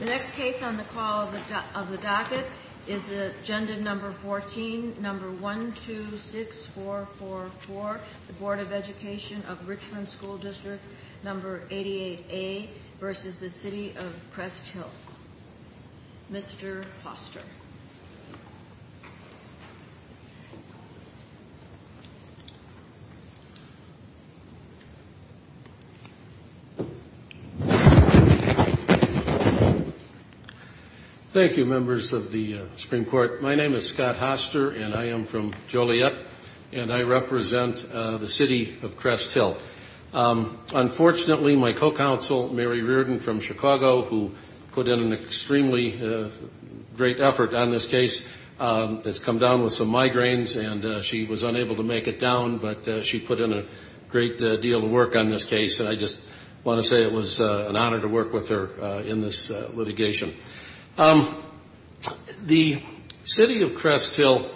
The next case on the call of the docket is Agenda No. 14, No. 126444 The Board of Education of Richland School District No. 88A v. City of Crest Hill Mr. Foster Thank you members of the Supreme Court. My name is Scott Hoster and I am from Joliet and I represent the City of Crest Hill. Unfortunately my co-counsel Mary Reardon from Chicago who put in an extremely great effort on this case has come down with some migraines and she was unable to make it down but she put in a great deal of work on this case. And I just want to say it was an honor to work with her in this litigation. The City of Crest Hill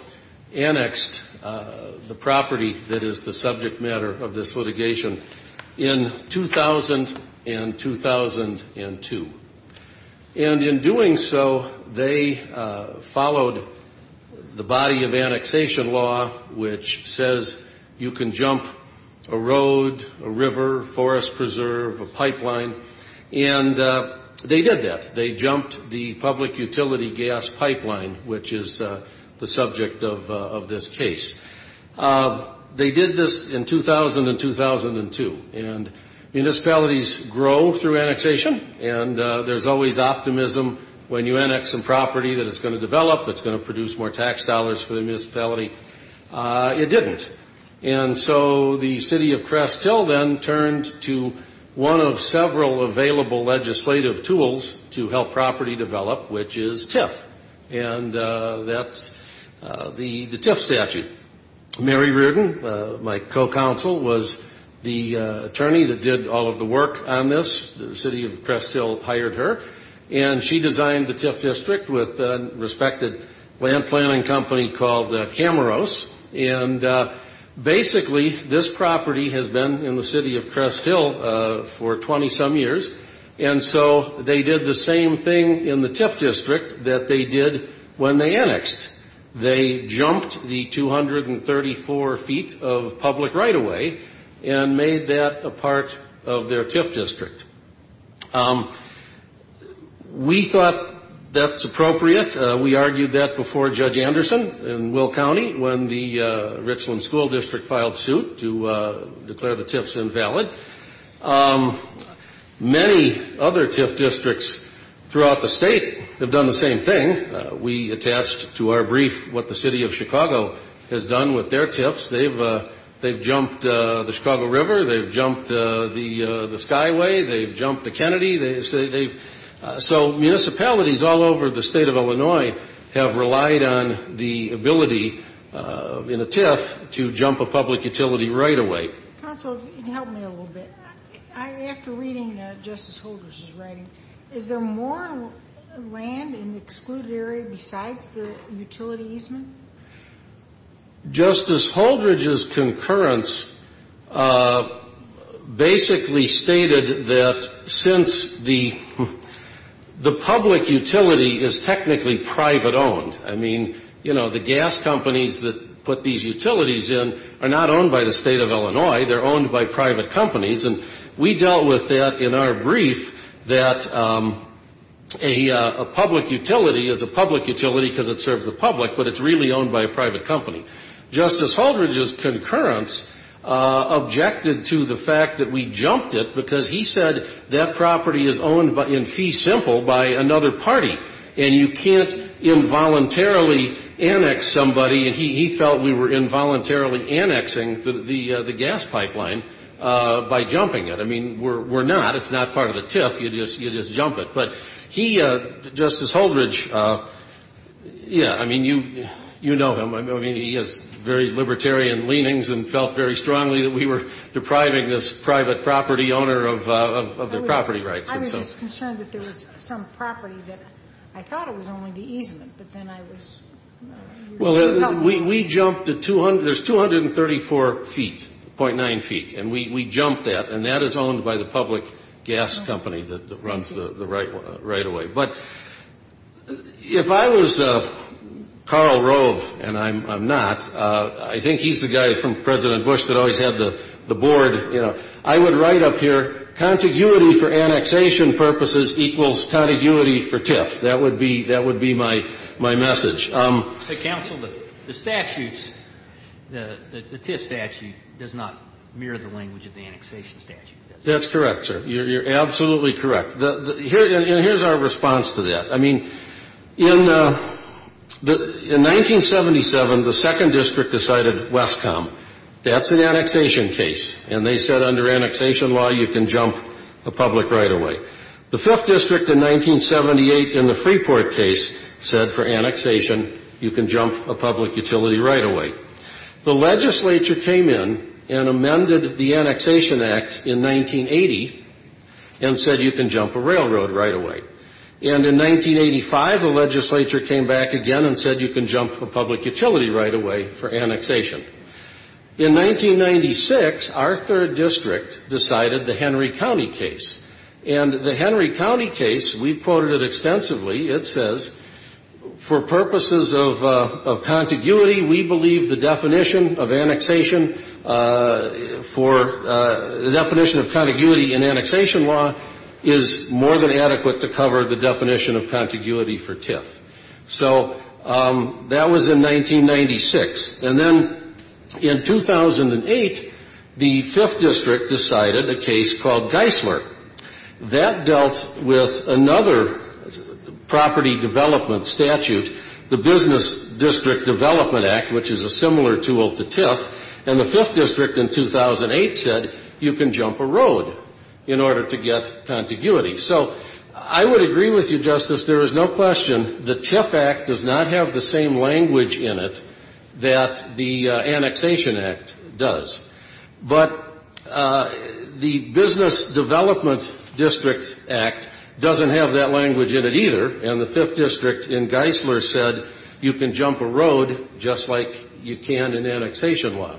annexed the property that is the subject matter of this litigation in 2000 and 2002. And in doing so they followed the body of annexation law which says you can jump a road, a river, forest preserve, a pipeline and they did that. They jumped the public utility gas pipeline which is the subject of this case. They did this in 2000 and 2002 and municipalities grow through annexation and there's always optimism when you annex some property that it's going to develop, it's going to produce more tax dollars for the municipality. It didn't. And so the City of Crest Hill then turned to one of several available legislative tools to help property develop which is TIF and that's the TIF statute. Mary Reardon, my co-counsel, was the attorney that did all of the work on this. The City of Crest Hill hired her and she designed the TIF district with a respected land planning company called Cameros. And basically this property has been in the City of Crest Hill for 20 some years. And so they did the same thing in the TIF district that they did when they annexed. They jumped the 234 feet of public right-of-way and made that a part of their TIF district. We thought that's appropriate. We argued that before Judge Anderson in Will County when the Richland School District filed suit to declare the TIFs invalid. Many other TIF districts throughout the state have done the same thing. We attached to our brief what the City of Chicago has done with their TIFs. They've jumped the Chicago River. They've jumped the Skyway. They've jumped the Kennedy. So municipalities all over the State of Illinois have relied on the ability in a TIF to jump a public utility right-of-way. Counsel, if you can help me a little bit. After reading Justice Holdridge's writing, is there more land in the excluded area besides the utility easement? Justice Holdridge's concurrence basically stated that since the public utility is technically private-owned, I mean, you know, the gas companies that put these utilities in are not owned by the State of Illinois. They're owned by private companies. And we dealt with that in our brief that a public utility is a public utility because it serves the public, but it's really owned by a private company. Justice Holdridge's concurrence objected to the fact that we jumped it because he said that property is owned in fee simple by another party. And you can't involuntarily annex somebody. And he felt we were involuntarily annexing the gas pipeline by jumping it. I mean, we're not. It's not part of the TIF. You just jump it. But he, Justice Holdridge, yeah, I mean, you know him. I mean, he has very libertarian leanings and felt very strongly that we were depriving this private property owner of their property rights. I was just concerned that there was some property that I thought it was only the easement, but then I was. Well, we jumped the 200. There's 234 feet, .9 feet. And we jumped that. And that is owned by the public gas company that runs the right-of-way. But if I was Karl Rove, and I'm not, I think he's the guy from President Bush that always had the board, you know. I would write up here, contiguity for annexation purposes equals contiguity for TIF. That would be my message. Counsel, the statutes, the TIF statute does not mirror the language of the annexation statute, does it? That's correct, sir. You're absolutely correct. And here's our response to that. I mean, in 1977, the second district decided Westcom. That's an annexation case. And they said under annexation law, you can jump a public right-of-way. The fifth district in 1978 in the Freeport case said for annexation, you can jump a public utility right-of-way. The legislature came in and amended the Annexation Act in 1980 and said you can jump a railroad right-of-way. And in 1985, the legislature came back again and said you can jump a public utility right-of-way for annexation. In 1996, our third district decided the Henry County case. And the Henry County case, we've quoted it extensively. It says, for purposes of contiguity, we believe the definition of annexation for the definition of contiguity in annexation law is more than adequate to cover the definition of contiguity for TIF. So that was in 1996. And then in 2008, the fifth district decided a case called Geisler. That dealt with another property development statute, the Business District Development Act, which is a similar tool to TIF. And the fifth district in 2008 said you can jump a road in order to get contiguity. So I would agree with you, Justice. There is no question the TIF Act does not have the same language in it that the Annexation Act does. But the Business Development District Act doesn't have that language in it either. And the fifth district in Geisler said you can jump a road just like you can in annexation law.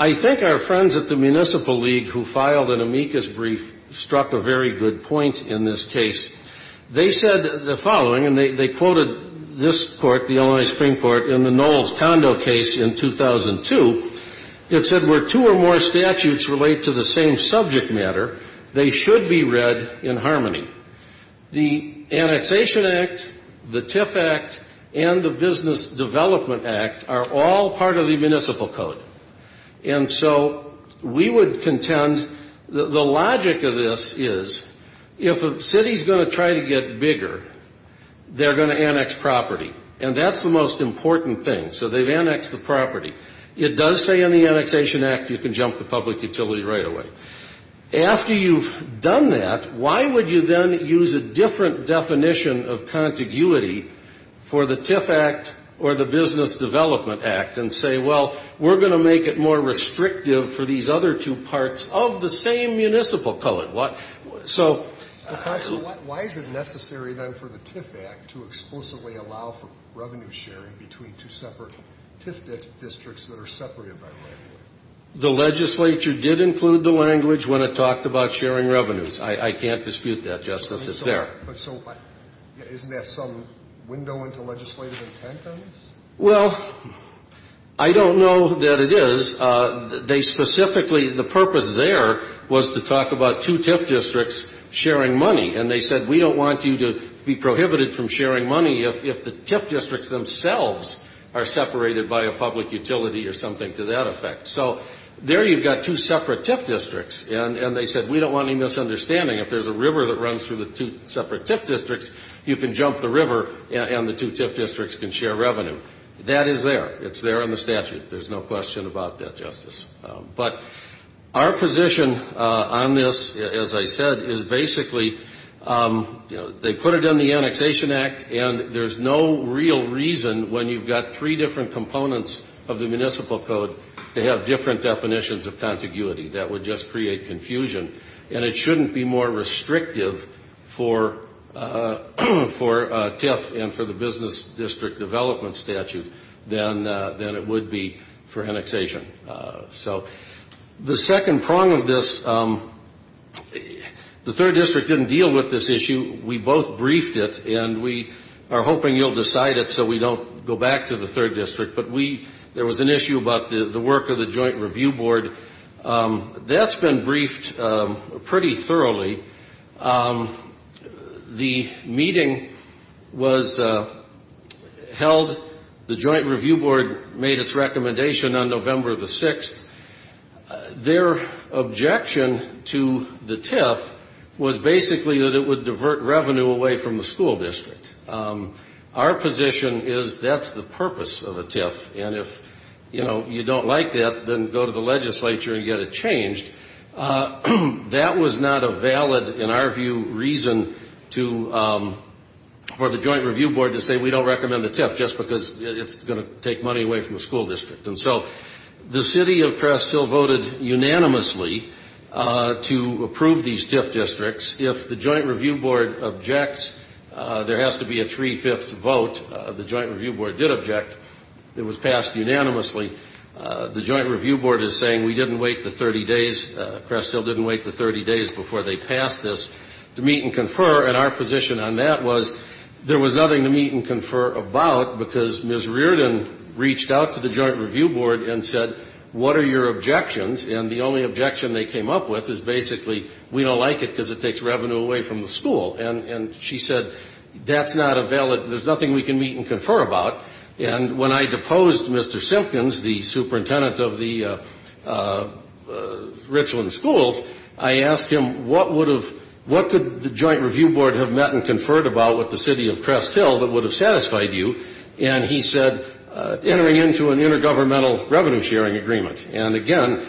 I think our friends at the Municipal League who filed an amicus brief struck a very good point in this case. They said the following, and they quoted this Court, the Illinois Supreme Court, in the Knowles-Condo case in 2002. It said where two or more statutes relate to the same subject matter, they should be read in harmony. The Annexation Act, the TIF Act, and the Business Development Act are all part of the municipal code. And so we would contend the logic of this is if a city is going to try to get bigger, they're going to annex property. And that's the most important thing. So they've annexed the property. It does say in the Annexation Act you can jump the public utility right away. After you've done that, why would you then use a different definition of contiguity for the TIF Act or the Business Development Act and say, well, we're going to make it more restrictive for these other two parts of the same municipal code? So why is it necessary then for the TIF Act to explicitly allow for revenue sharing between two separate TIF districts that are separated by revenue? The legislature did include the language when it talked about sharing revenues. I can't dispute that, Justice. It's there. But so isn't there some window into legislative intent on this? Well, I don't know that it is. They specifically the purpose there was to talk about two TIF districts sharing money. And they said we don't want you to be prohibited from sharing money if the TIF districts are separated by a public utility or something to that effect. So there you've got two separate TIF districts. And they said we don't want any misunderstanding. If there's a river that runs through the two separate TIF districts, you can jump the river and the two TIF districts can share revenue. That is there. It's there in the statute. There's no question about that, Justice. But our position on this, as I said, is basically they put it in the Annexation Act, and there's no real reason when you've got three different components of the municipal code to have different definitions of contiguity. That would just create confusion. And it shouldn't be more restrictive for TIF and for the business district development statute than it would be for annexation. So the second prong of this, the third district didn't deal with this issue. We both briefed it, and we are hoping you'll decide it so we don't go back to the third district. But there was an issue about the work of the Joint Review Board. That's been briefed pretty thoroughly. The meeting was held. The Joint Review Board made its recommendation on November the 6th. Their objection to the TIF was basically that it would divert revenue away from the school district. Our position is that's the purpose of a TIF. And if, you know, you don't like that, then go to the legislature and get it changed. That was not a valid, in our view, reason for the Joint Review Board to say, we don't recommend the TIF just because it's going to take money away from the school district. And so the city of Crest Hill voted unanimously to approve these TIF districts. If the Joint Review Board objects, there has to be a three-fifths vote. The Joint Review Board did object. It was passed unanimously. The Joint Review Board is saying we didn't wait the 30 days. Crest Hill didn't wait the 30 days before they passed this to meet and confer. And our position on that was there was nothing to meet and confer about because Ms. Reardon reached out to the Joint Review Board and said, what are your objections? And the only objection they came up with is basically, we don't like it because it takes revenue away from the school. And she said, that's not a valid, there's nothing we can meet and confer about. And when I deposed Mr. Simpkins, the superintendent of the Richland schools, I asked him, what could the Joint Review Board have met and conferred about with the city of Crest Hill that would have satisfied you? And he said, entering into an intergovernmental revenue-sharing agreement. And, again,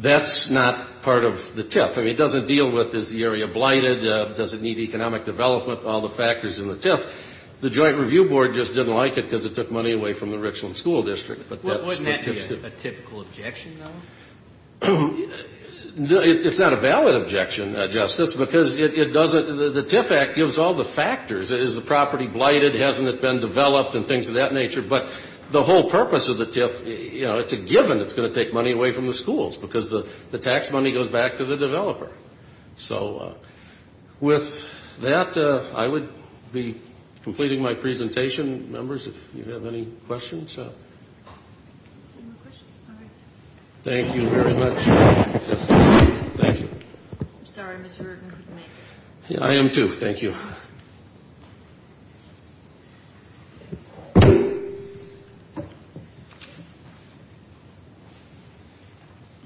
that's not part of the TIF. I mean, it doesn't deal with is the area blighted, does it need economic development, all the factors in the TIF. The Joint Review Board just didn't like it because it took money away from the Richland School District. But that's what TIF did. Wouldn't that be a typical objection, though? It's not a valid objection, Justice, because it doesn't, the TIF Act gives all the factors. Is the property blighted? Hasn't it been developed? And things of that nature. But the whole purpose of the TIF, you know, it's a given it's going to take money away from the schools because the tax money goes back to the developer. So with that, I would be completing my presentation. Members, if you have any questions. Any more questions? All right. Thank you very much, Justice. Thank you. I'm sorry, Mr. Rueggen, couldn't make it. I am, too. Thank you.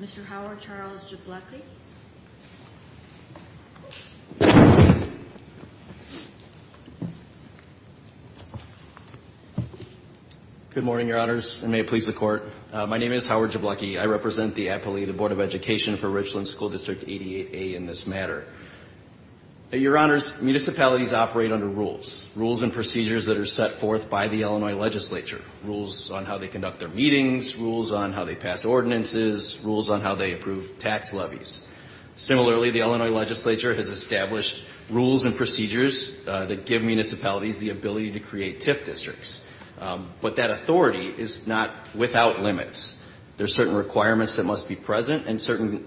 Mr. Howard Charles Jablocki. Good morning, Your Honors, and may it please the Court. My name is Howard Jablocki. I represent the appellee of the Board of Education for Richland School District 88A in this matter. Your Honors, municipalities operate under rules, rules and procedures that are set forth by the Illinois legislature, rules on how they conduct their meetings, rules on how they pass ordinances, rules on how they approve tax levies. Similarly, the Illinois legislature has established rules and procedures that give municipalities the ability to create TIF districts. But that authority is not without limits. There are certain requirements that must be present and certain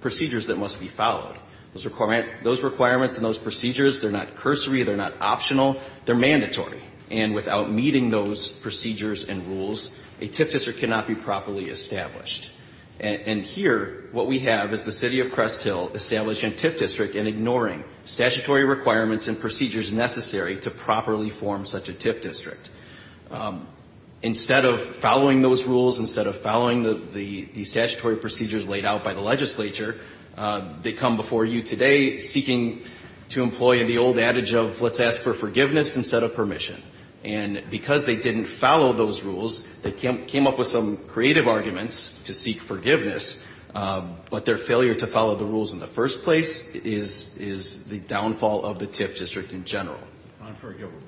procedures that must be followed. Those requirements and those procedures, they're not cursory, they're not optional, they're mandatory. And without meeting those procedures and rules, a TIF district cannot be properly established. And here, what we have is the City of Crest Hill establishing a TIF district and ignoring statutory requirements and procedures necessary to properly form such a TIF district. Instead of following those rules, instead of following the statutory procedures laid out by the legislature, they come before you today seeking to employ the old adage of let's ask for forgiveness instead of permission. And because they didn't follow those rules, they came up with some creative arguments to seek forgiveness, but their failure to follow the rules in the first place is the downfall of the TIF district in general. Unforgivable.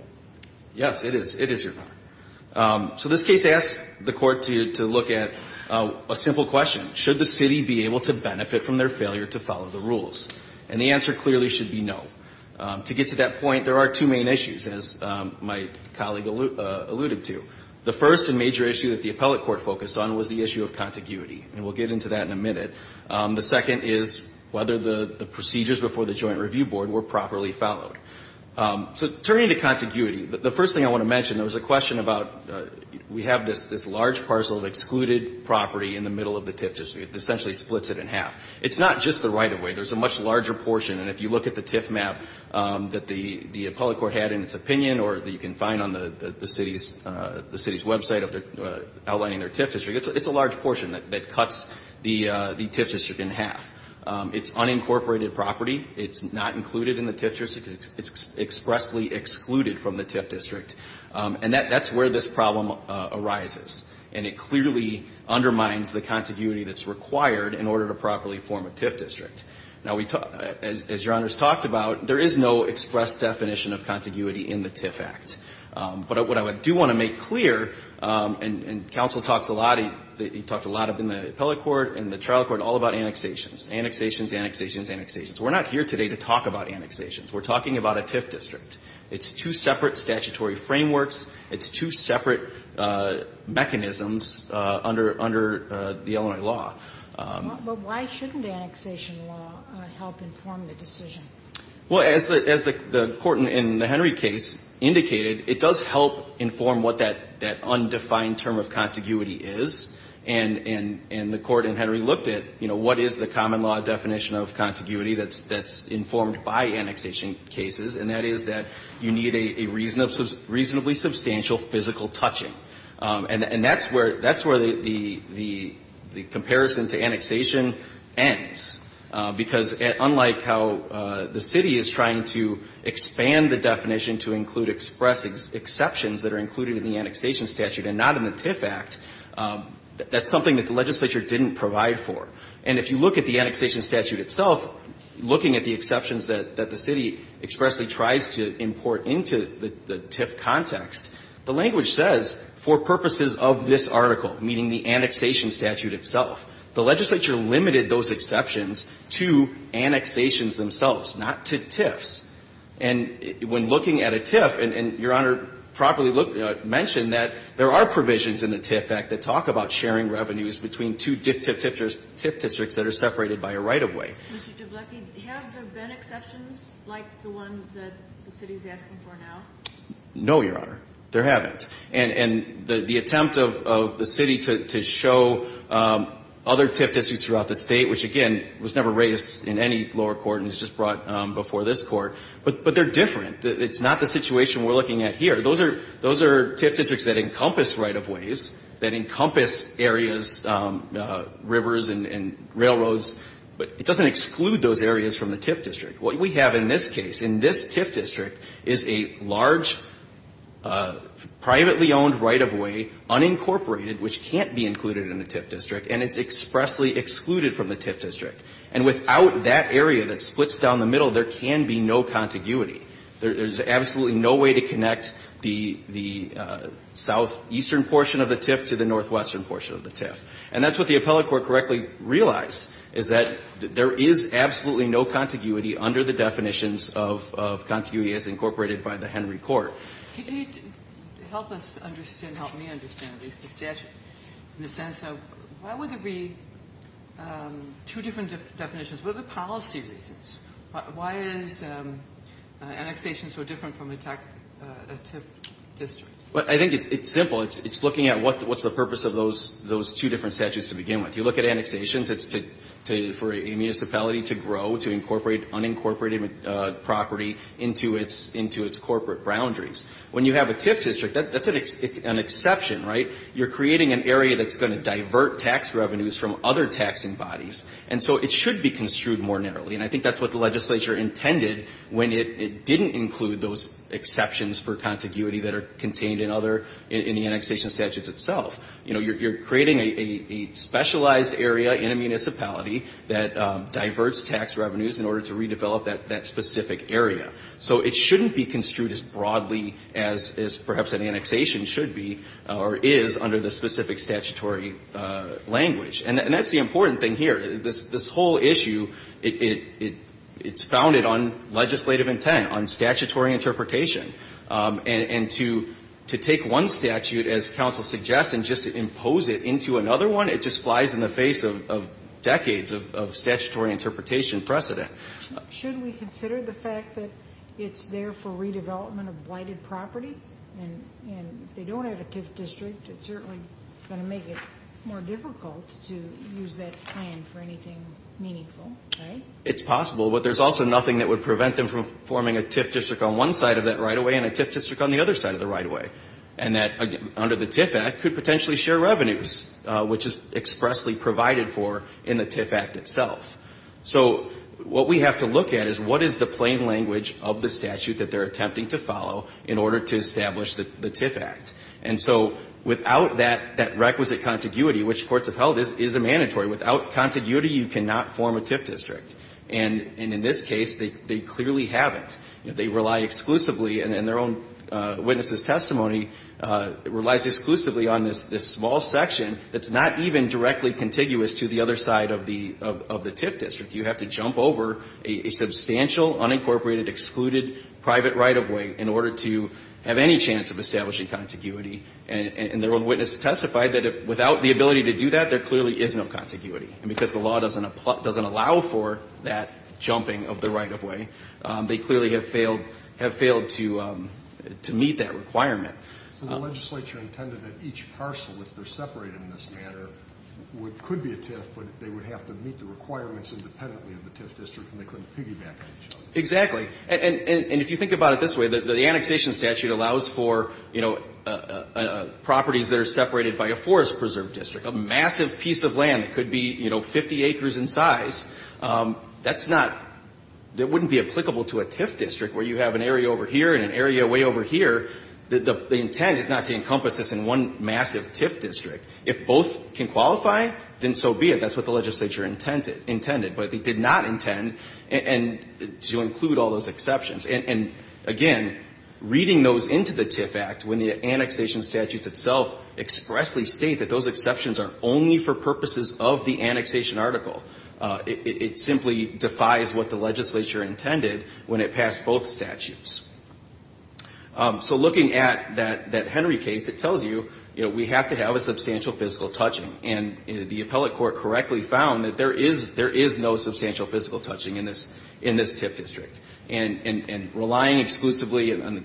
Yes, it is. It is, Your Honor. So this case asks the court to look at a simple question. Should the city be able to benefit from their failure to follow the rules? And the answer clearly should be no. To get to that point, there are two main issues, as my colleague alluded to. The first and major issue that the appellate court focused on was the issue of contiguity, and we'll get into that in a minute. The second is whether the procedures before the joint review board were properly followed. So turning to contiguity, the first thing I want to mention, there was a question about we have this large parcel of excluded property in the middle of the TIF district. It essentially splits it in half. It's not just the right-of-way. There's a much larger portion, and if you look at the TIF map that the appellate court had in its opinion or that you can find on the city's website outlining their TIF district, it's a large portion that cuts the TIF district in half. It's unincorporated property. It's not included in the TIF district. It's expressly excluded from the TIF district. And that's where this problem arises. And it clearly undermines the contiguity that's required in order to properly form a TIF district. Now, as Your Honors talked about, there is no express definition of contiguity in the TIF Act. But what I do want to make clear, and counsel talks a lot, he talked a lot in the appellate court and the trial court, all about annexations, annexations, annexations, annexations. We're not here today to talk about annexations. We're talking about a TIF district. It's two separate statutory frameworks. It's two separate mechanisms under the Illinois law. But why shouldn't annexation law help inform the decision? Well, as the court in the Henry case indicated, it does help inform what that undefined term of contiguity is. And the court in Henry looked at, you know, what is the common law definition of contiguity that's informed by annexation cases. And that is that you need a reasonably substantial physical touching. And that's where the comparison to annexation ends. Because unlike how the city is trying to expand the definition to include exceptions that are included in the annexation statute and not in the TIF Act, that's something that the legislature didn't provide for. And if you look at the annexation statute itself, looking at the exceptions that the city expressly tries to import into the TIF context, the language says, for purposes of this article, meaning the annexation statute itself, the legislature limited those exceptions to annexations themselves, not to TIFs. And when looking at a TIF, and Your Honor properly mentioned that there are provisions in the TIF Act that talk about sharing revenues between two TIF districts that are separated by a right-of-way. Mr. Jabloki, have there been exceptions like the one that the city is asking for now? No, Your Honor. There haven't. And the attempt of the city to show other TIF districts throughout the State, which, again, was never raised in any lower court and was just brought before this court, but they're different. It's not the situation we're looking at here. Those are TIF districts that encompass right-of-ways, that encompass areas, rivers and railroads, but it doesn't exclude those areas from the TIF district. What we have in this case, in this TIF district, is a large privately owned right-of-way unincorporated, which can't be included in the TIF district, and is expressly excluded from the TIF district. And without that area that splits down the middle, there can be no contiguity. There's absolutely no way to connect the southeastern portion of the TIF to the northwestern portion of the TIF. And that's what the appellate court correctly realized, is that there is absolutely no contiguity under the definitions of contiguity as incorporated by the Henry Court. Can you help us understand, help me understand the statute in the sense of why would there be two different definitions? What are the policy reasons? Why is annexation so different from a TIF district? I think it's simple. It's looking at what's the purpose of those two different statutes to begin with. You look at annexations, it's for a municipality to grow, to incorporate unincorporated property into its corporate boundaries. When you have a TIF district, that's an exception, right? You're creating an area that's going to divert tax revenues from other taxing bodies. And so it should be construed more narrowly. And I think that's what the legislature intended when it didn't include those exceptions for contiguity that are contained in other, in the annexation statutes itself. You know, you're creating a specialized area in a municipality that diverts tax revenues in order to redevelop that specific area. So it shouldn't be construed as broadly as perhaps an annexation should be or is under the specific statutory language. And that's the important thing here. This whole issue, it's founded on legislative intent, on statutory interpretation. And to take one statute, as counsel suggests, and just impose it into another one, it just flies in the face of decades of statutory interpretation precedent. Should we consider the fact that it's there for redevelopment of blighted property? And if they don't have a TIF district, it's certainly going to make it more difficult to use that plan for anything meaningful, right? It's possible. But there's also nothing that would prevent them from forming a TIF district on one side of that right-of-way and a TIF district on the other side of the right-of-way. And that, under the TIF Act, could potentially share revenues, which is expressly provided for in the TIF Act itself. So what we have to look at is what is the plain language of the statute that they're attempting to follow in order to establish the TIF Act. And so without that requisite contiguity, which courts have held is a mandatory. Without contiguity, you cannot form a TIF district. And in this case, they clearly haven't. They rely exclusively, and their own witness's testimony relies exclusively on this small section that's not even directly contiguous to the other side of the TIF district. You have to jump over a substantial, unincorporated, excluded private right-of-way in order to have any chance of establishing contiguity. And their own witness testified that without the ability to do that, there clearly is no contiguity. And because the law doesn't allow for that jumping of the right-of-way, they clearly have failed to meet that requirement. So the legislature intended that each parcel, if they're separated in this matter, could be a TIF, but they would have to meet the requirements independently of the TIF district, and they couldn't piggyback on each other. Exactly. And if you think about it this way, the annexation statute allows for, you know, properties that are separated by a forest preserve district, a massive piece of land that could be, you know, 50 acres in size. That's not – that wouldn't be applicable to a TIF district where you have an area over here and an area way over here. The intent is not to encompass this in one massive TIF district. If both can qualify, then so be it. That's what the legislature intended. But they did not intend to include all those exceptions. And, again, reading those into the TIF Act, when the annexation statutes itself expressly state that those exceptions are only for purposes of the annexation article, it simply defies what the legislature intended when it passed both statutes. So looking at that Henry case, it tells you, you know, we have to have a substantial fiscal touching. And the appellate court correctly found that there is no substantial fiscal touching in this TIF district. And relying exclusively on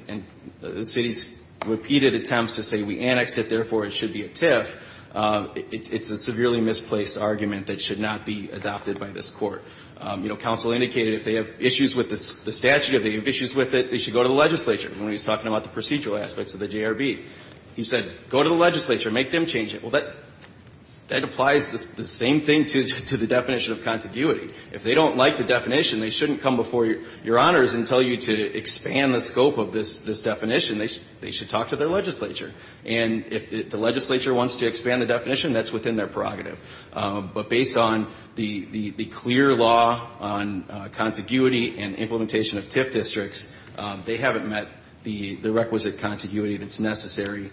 the city's repeated attempts to say we annexed it, therefore it should be a TIF, it's a severely misplaced argument that should not be adopted by this court. You know, counsel indicated if they have issues with the statute or they have issues with it, they should go to the legislature when he was talking about the procedural aspects of the JRB. He said go to the legislature. Make them change it. Well, that applies the same thing to the definition of contiguity. If they don't like the definition, they shouldn't come before Your Honors and tell you to expand the scope of this definition. They should talk to their legislature. And if the legislature wants to expand the definition, that's within their prerogative. But based on the clear law on contiguity and implementation of TIF districts, they haven't met the requisite contiguity that's necessary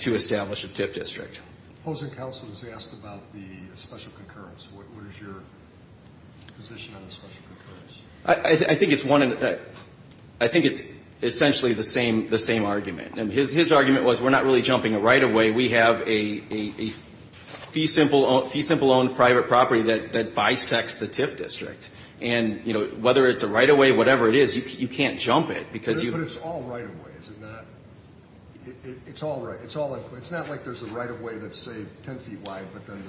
to establish a TIF district. Opposing counsel has asked about the special concurrence. What is your position on the special concurrence? I think it's essentially the same argument. And his argument was we're not really jumping a right-of-way. We have a fee-simple-owned private property that bisects the TIF district. And, you know, whether it's a right-of-way, whatever it is, you can't jump it because you ---- But it's all right-of-way, is it not? It's all right. So it's not like there's a right-of-way that's, say, 10 feet wide but then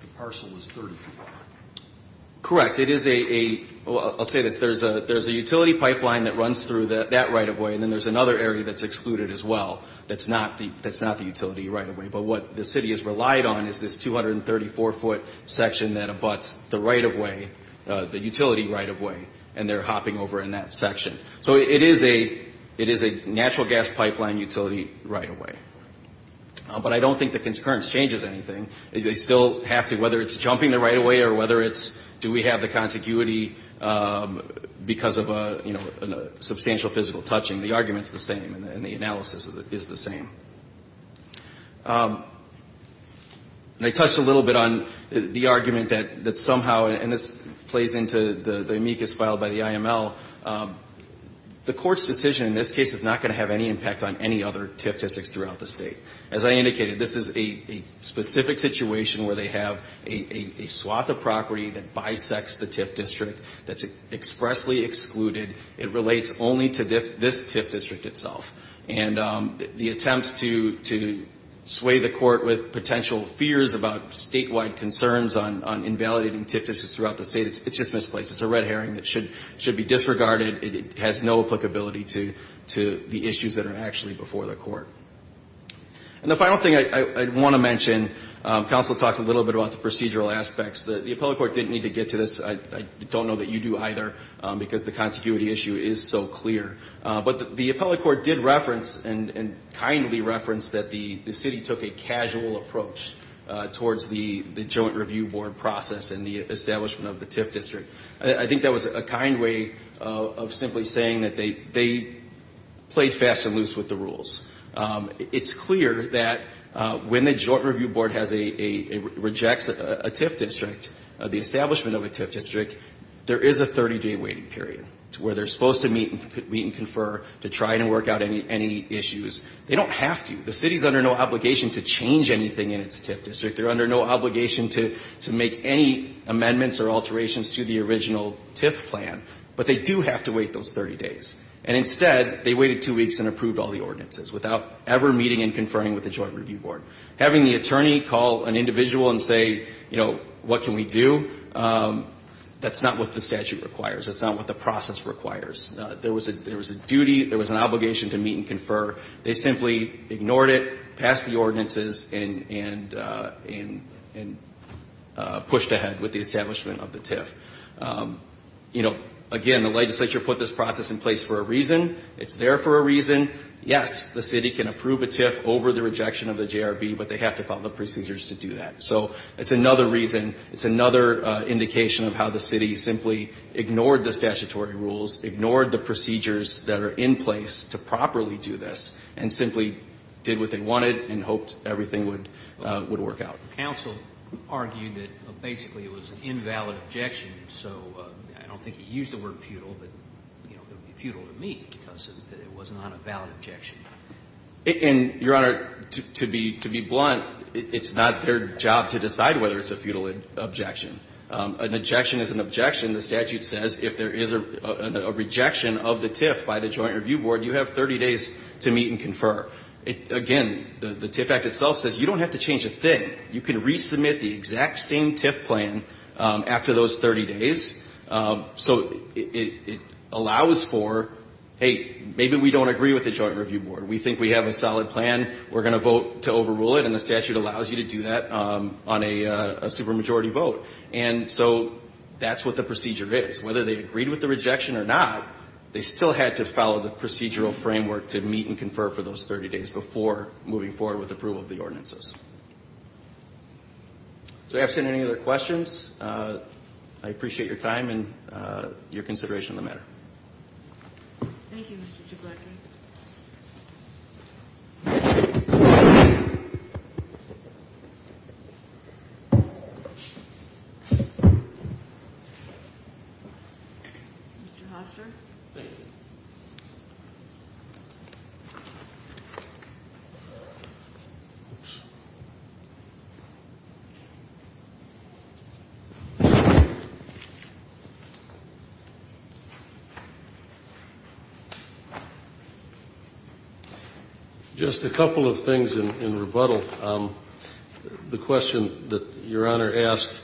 the parcel is 30 feet wide. Correct. It is a ---- Well, I'll say this. There's a utility pipeline that runs through that right-of-way, and then there's another area that's excluded as well that's not the utility right-of-way. But what the city has relied on is this 234-foot section that abuts the right-of-way, the utility right-of-way, and they're hopping over in that section. So it is a natural gas pipeline utility right-of-way. But I don't think the concurrence changes anything. They still have to, whether it's jumping the right-of-way or whether it's do we have the contiguity because of a, you know, substantial physical touching, the argument's the same and the analysis is the same. And I touched a little bit on the argument that somehow, and this plays into the amicus filed by the IML, the court's decision in this case is not going to have any impact on any other TIF districts throughout the state. As I indicated, this is a specific situation where they have a swath of property that bisects the TIF district that's expressly excluded. It relates only to this TIF district itself. And the attempt to sway the court with potential fears about statewide concerns on invalidating TIF districts throughout the state, it's just misplaced. It's a red herring that should be disregarded. It has no applicability to the issues that are actually before the court. And the final thing I want to mention, counsel talked a little bit about the procedural aspects. The appellate court didn't need to get to this. I don't know that you do either because the contiguity issue is so clear. But the appellate court did reference and kindly referenced that the city took a casual approach towards the joint review board process and the establishment of the TIF district. I think that was a kind way of simply saying that they played fast and loose with the rules. It's clear that when the joint review board has a, rejects a TIF district, the establishment of a TIF district, there is a 30-day waiting period where they're supposed to meet and confer to try and work out any issues. They don't have to. The city is under no obligation to change anything in its TIF district. They're under no obligation to make any amendments or alterations to the original TIF plan. But they do have to wait those 30 days. And instead, they waited two weeks and approved all the ordinances without ever meeting and conferring with the joint review board. Having the attorney call an individual and say, you know, what can we do, that's not what the statute requires. That's not what the process requires. There was a duty, there was an obligation to meet and confer. They simply ignored it, passed the ordinances, and pushed ahead with the establishment of the TIF. You know, again, the legislature put this process in place for a reason. It's there for a reason. Yes, the city can approve a TIF over the rejection of the JRB, but they have to follow the procedures to do that. So it's another reason, it's another indication of how the city simply ignored the statutory rules, ignored the procedures that are in place to properly do this, and simply did what they wanted and hoped everything would work out. Counsel argued that basically it was an invalid objection. So I don't think he used the word futile, but, you know, it would be futile to me because it was not a valid objection. And, Your Honor, to be blunt, it's not their job to decide whether it's a futile objection. An objection is an objection. The statute says if there is a rejection of the TIF by the Joint Review Board, you have 30 days to meet and confer. Again, the TIF Act itself says you don't have to change a thing. You can resubmit the exact same TIF plan after those 30 days. So it allows for, hey, maybe we don't agree with the Joint Review Board. We think we have a solid plan. We're going to vote to overrule it, and the statute allows you to do that on a supermajority vote. And so that's what the procedure is. Whether they agreed with the rejection or not, they still had to follow the procedural framework to meet and confer for those 30 days before moving forward with approval of the ordinances. So absent any other questions, I appreciate your time and your consideration of the matter. Thank you, Mr. Jablonski. Mr. Hoster. Thank you. Just a couple of things in rebuttal. The question that Your Honor asked,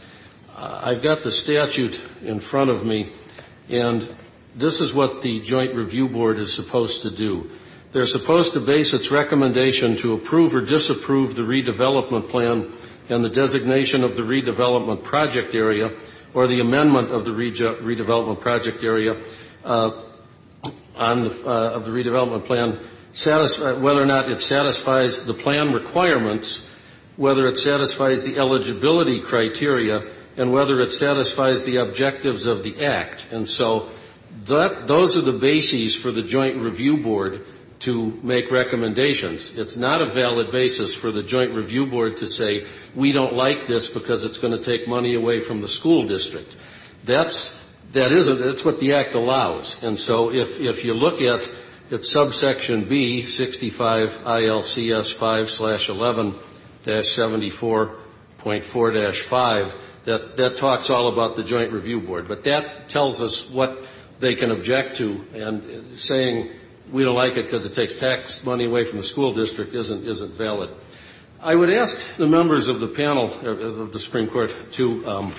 I've got the statute in front of me, and this is what the Joint Review Board is supposed to do. They're supposed to base its recommendation to approve or disapprove the redevelopment plan and the designation of the redevelopment project area or the amendment of the redevelopment project area of the redevelopment plan, whether or not it satisfies the plan requirements, whether it satisfies the eligibility criteria, and whether it satisfies the objectives of the Act. And so those are the bases for the Joint Review Board to make recommendations. It's not a valid basis for the Joint Review Board to say, we don't like this because it's going to take money away from the school district. That's what the Act allows. And so if you look at subsection B, 65 ILCS 5-11-74.4-5, that talks all about the Joint Review Board. But that tells us what they can object to. And saying we don't like it because it takes tax money away from the school district isn't valid. I would ask the members of the panel of the Supreme Court to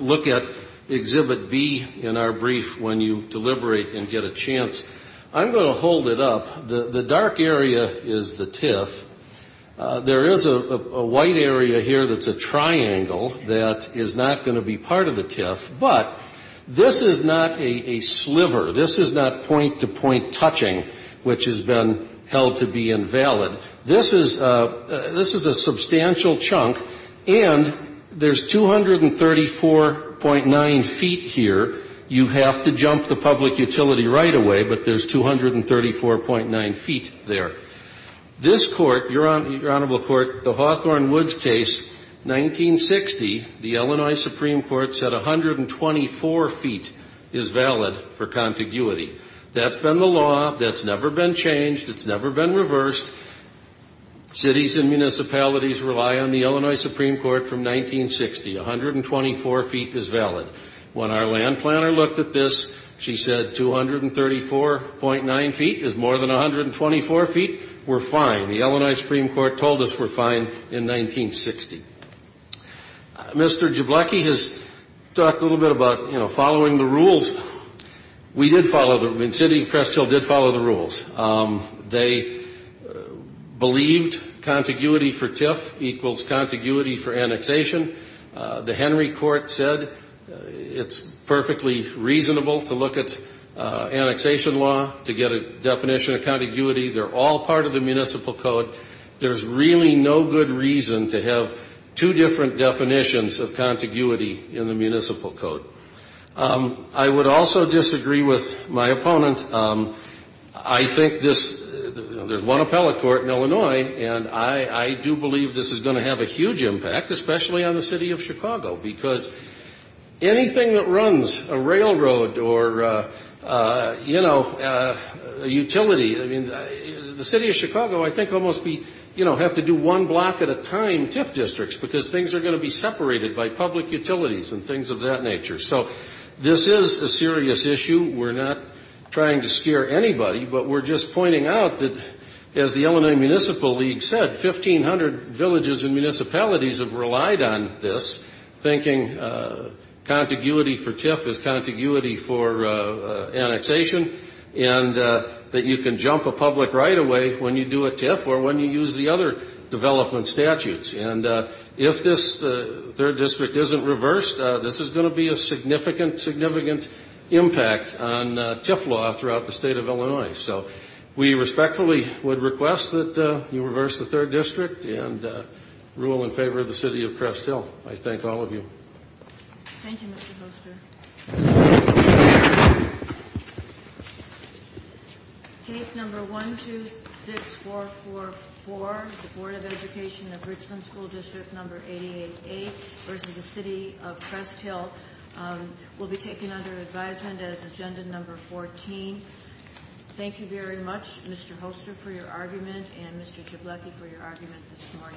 look at Exhibit B in our brief when you deliberate and get a chance. I'm going to hold it up. The dark area is the TIF. There is a white area here that's a triangle that is not going to be part of the TIF. But this is not a sliver. This is not point-to-point touching, which has been held to be invalid. This is a substantial chunk. And there's 234.9 feet here. You have to jump the public utility right away, but there's 234.9 feet there. This Court, Your Honorable Court, the Hawthorne Woods case, 1960, the Illinois Supreme Court said 124 feet is valid for contiguity. That's been the law. That's never been changed. It's never been reversed. Cities and municipalities rely on the Illinois Supreme Court from 1960. 124 feet is valid. When our land planner looked at this, she said 234.9 feet is more than 124 feet. We're fine. The Illinois Supreme Court told us we're fine in 1960. Mr. Jabloki has talked a little bit about, you know, following the rules. We did follow them. The city of Cresthill did follow the rules. They believed contiguity for TIF equals contiguity for annexation. The Henry Court said it's perfectly reasonable to look at annexation law to get a definition of contiguity. They're all part of the municipal code. There's really no good reason to have two different definitions of contiguity in the municipal code. I would also disagree with my opponent. I think this, you know, there's one appellate court in Illinois, and I do believe this is going to have a huge impact, especially on the city of Chicago, because anything that runs a railroad or, you know, a utility, I mean, the city of Chicago, I think, will almost be, you know, have to do one block at a time TIF districts because things are going to be separated by public utilities and things of that nature. So this is a serious issue. We're not trying to scare anybody, but we're just pointing out that, as the Illinois Municipal League said, 1,500 villages and municipalities have relied on this, thinking contiguity for TIF is contiguity for annexation, and that you can jump a public right away when you do a TIF or when you use the other development statutes. And if this third district isn't reversed, this is going to be a significant, significant impact on TIF law throughout the state of Illinois. So we respectfully would request that you reverse the third district and rule in favor of the city of Crest Hill. I thank all of you. Thank you, Mr. Hoster. Case number 126444, the Board of Education of Richmond School District number 888 versus the city of Crest Hill, will be taken under advisement as agenda number 14. Thank you very much, Mr. Hoster, for your argument and Mr. Jabloki for your argument this morning.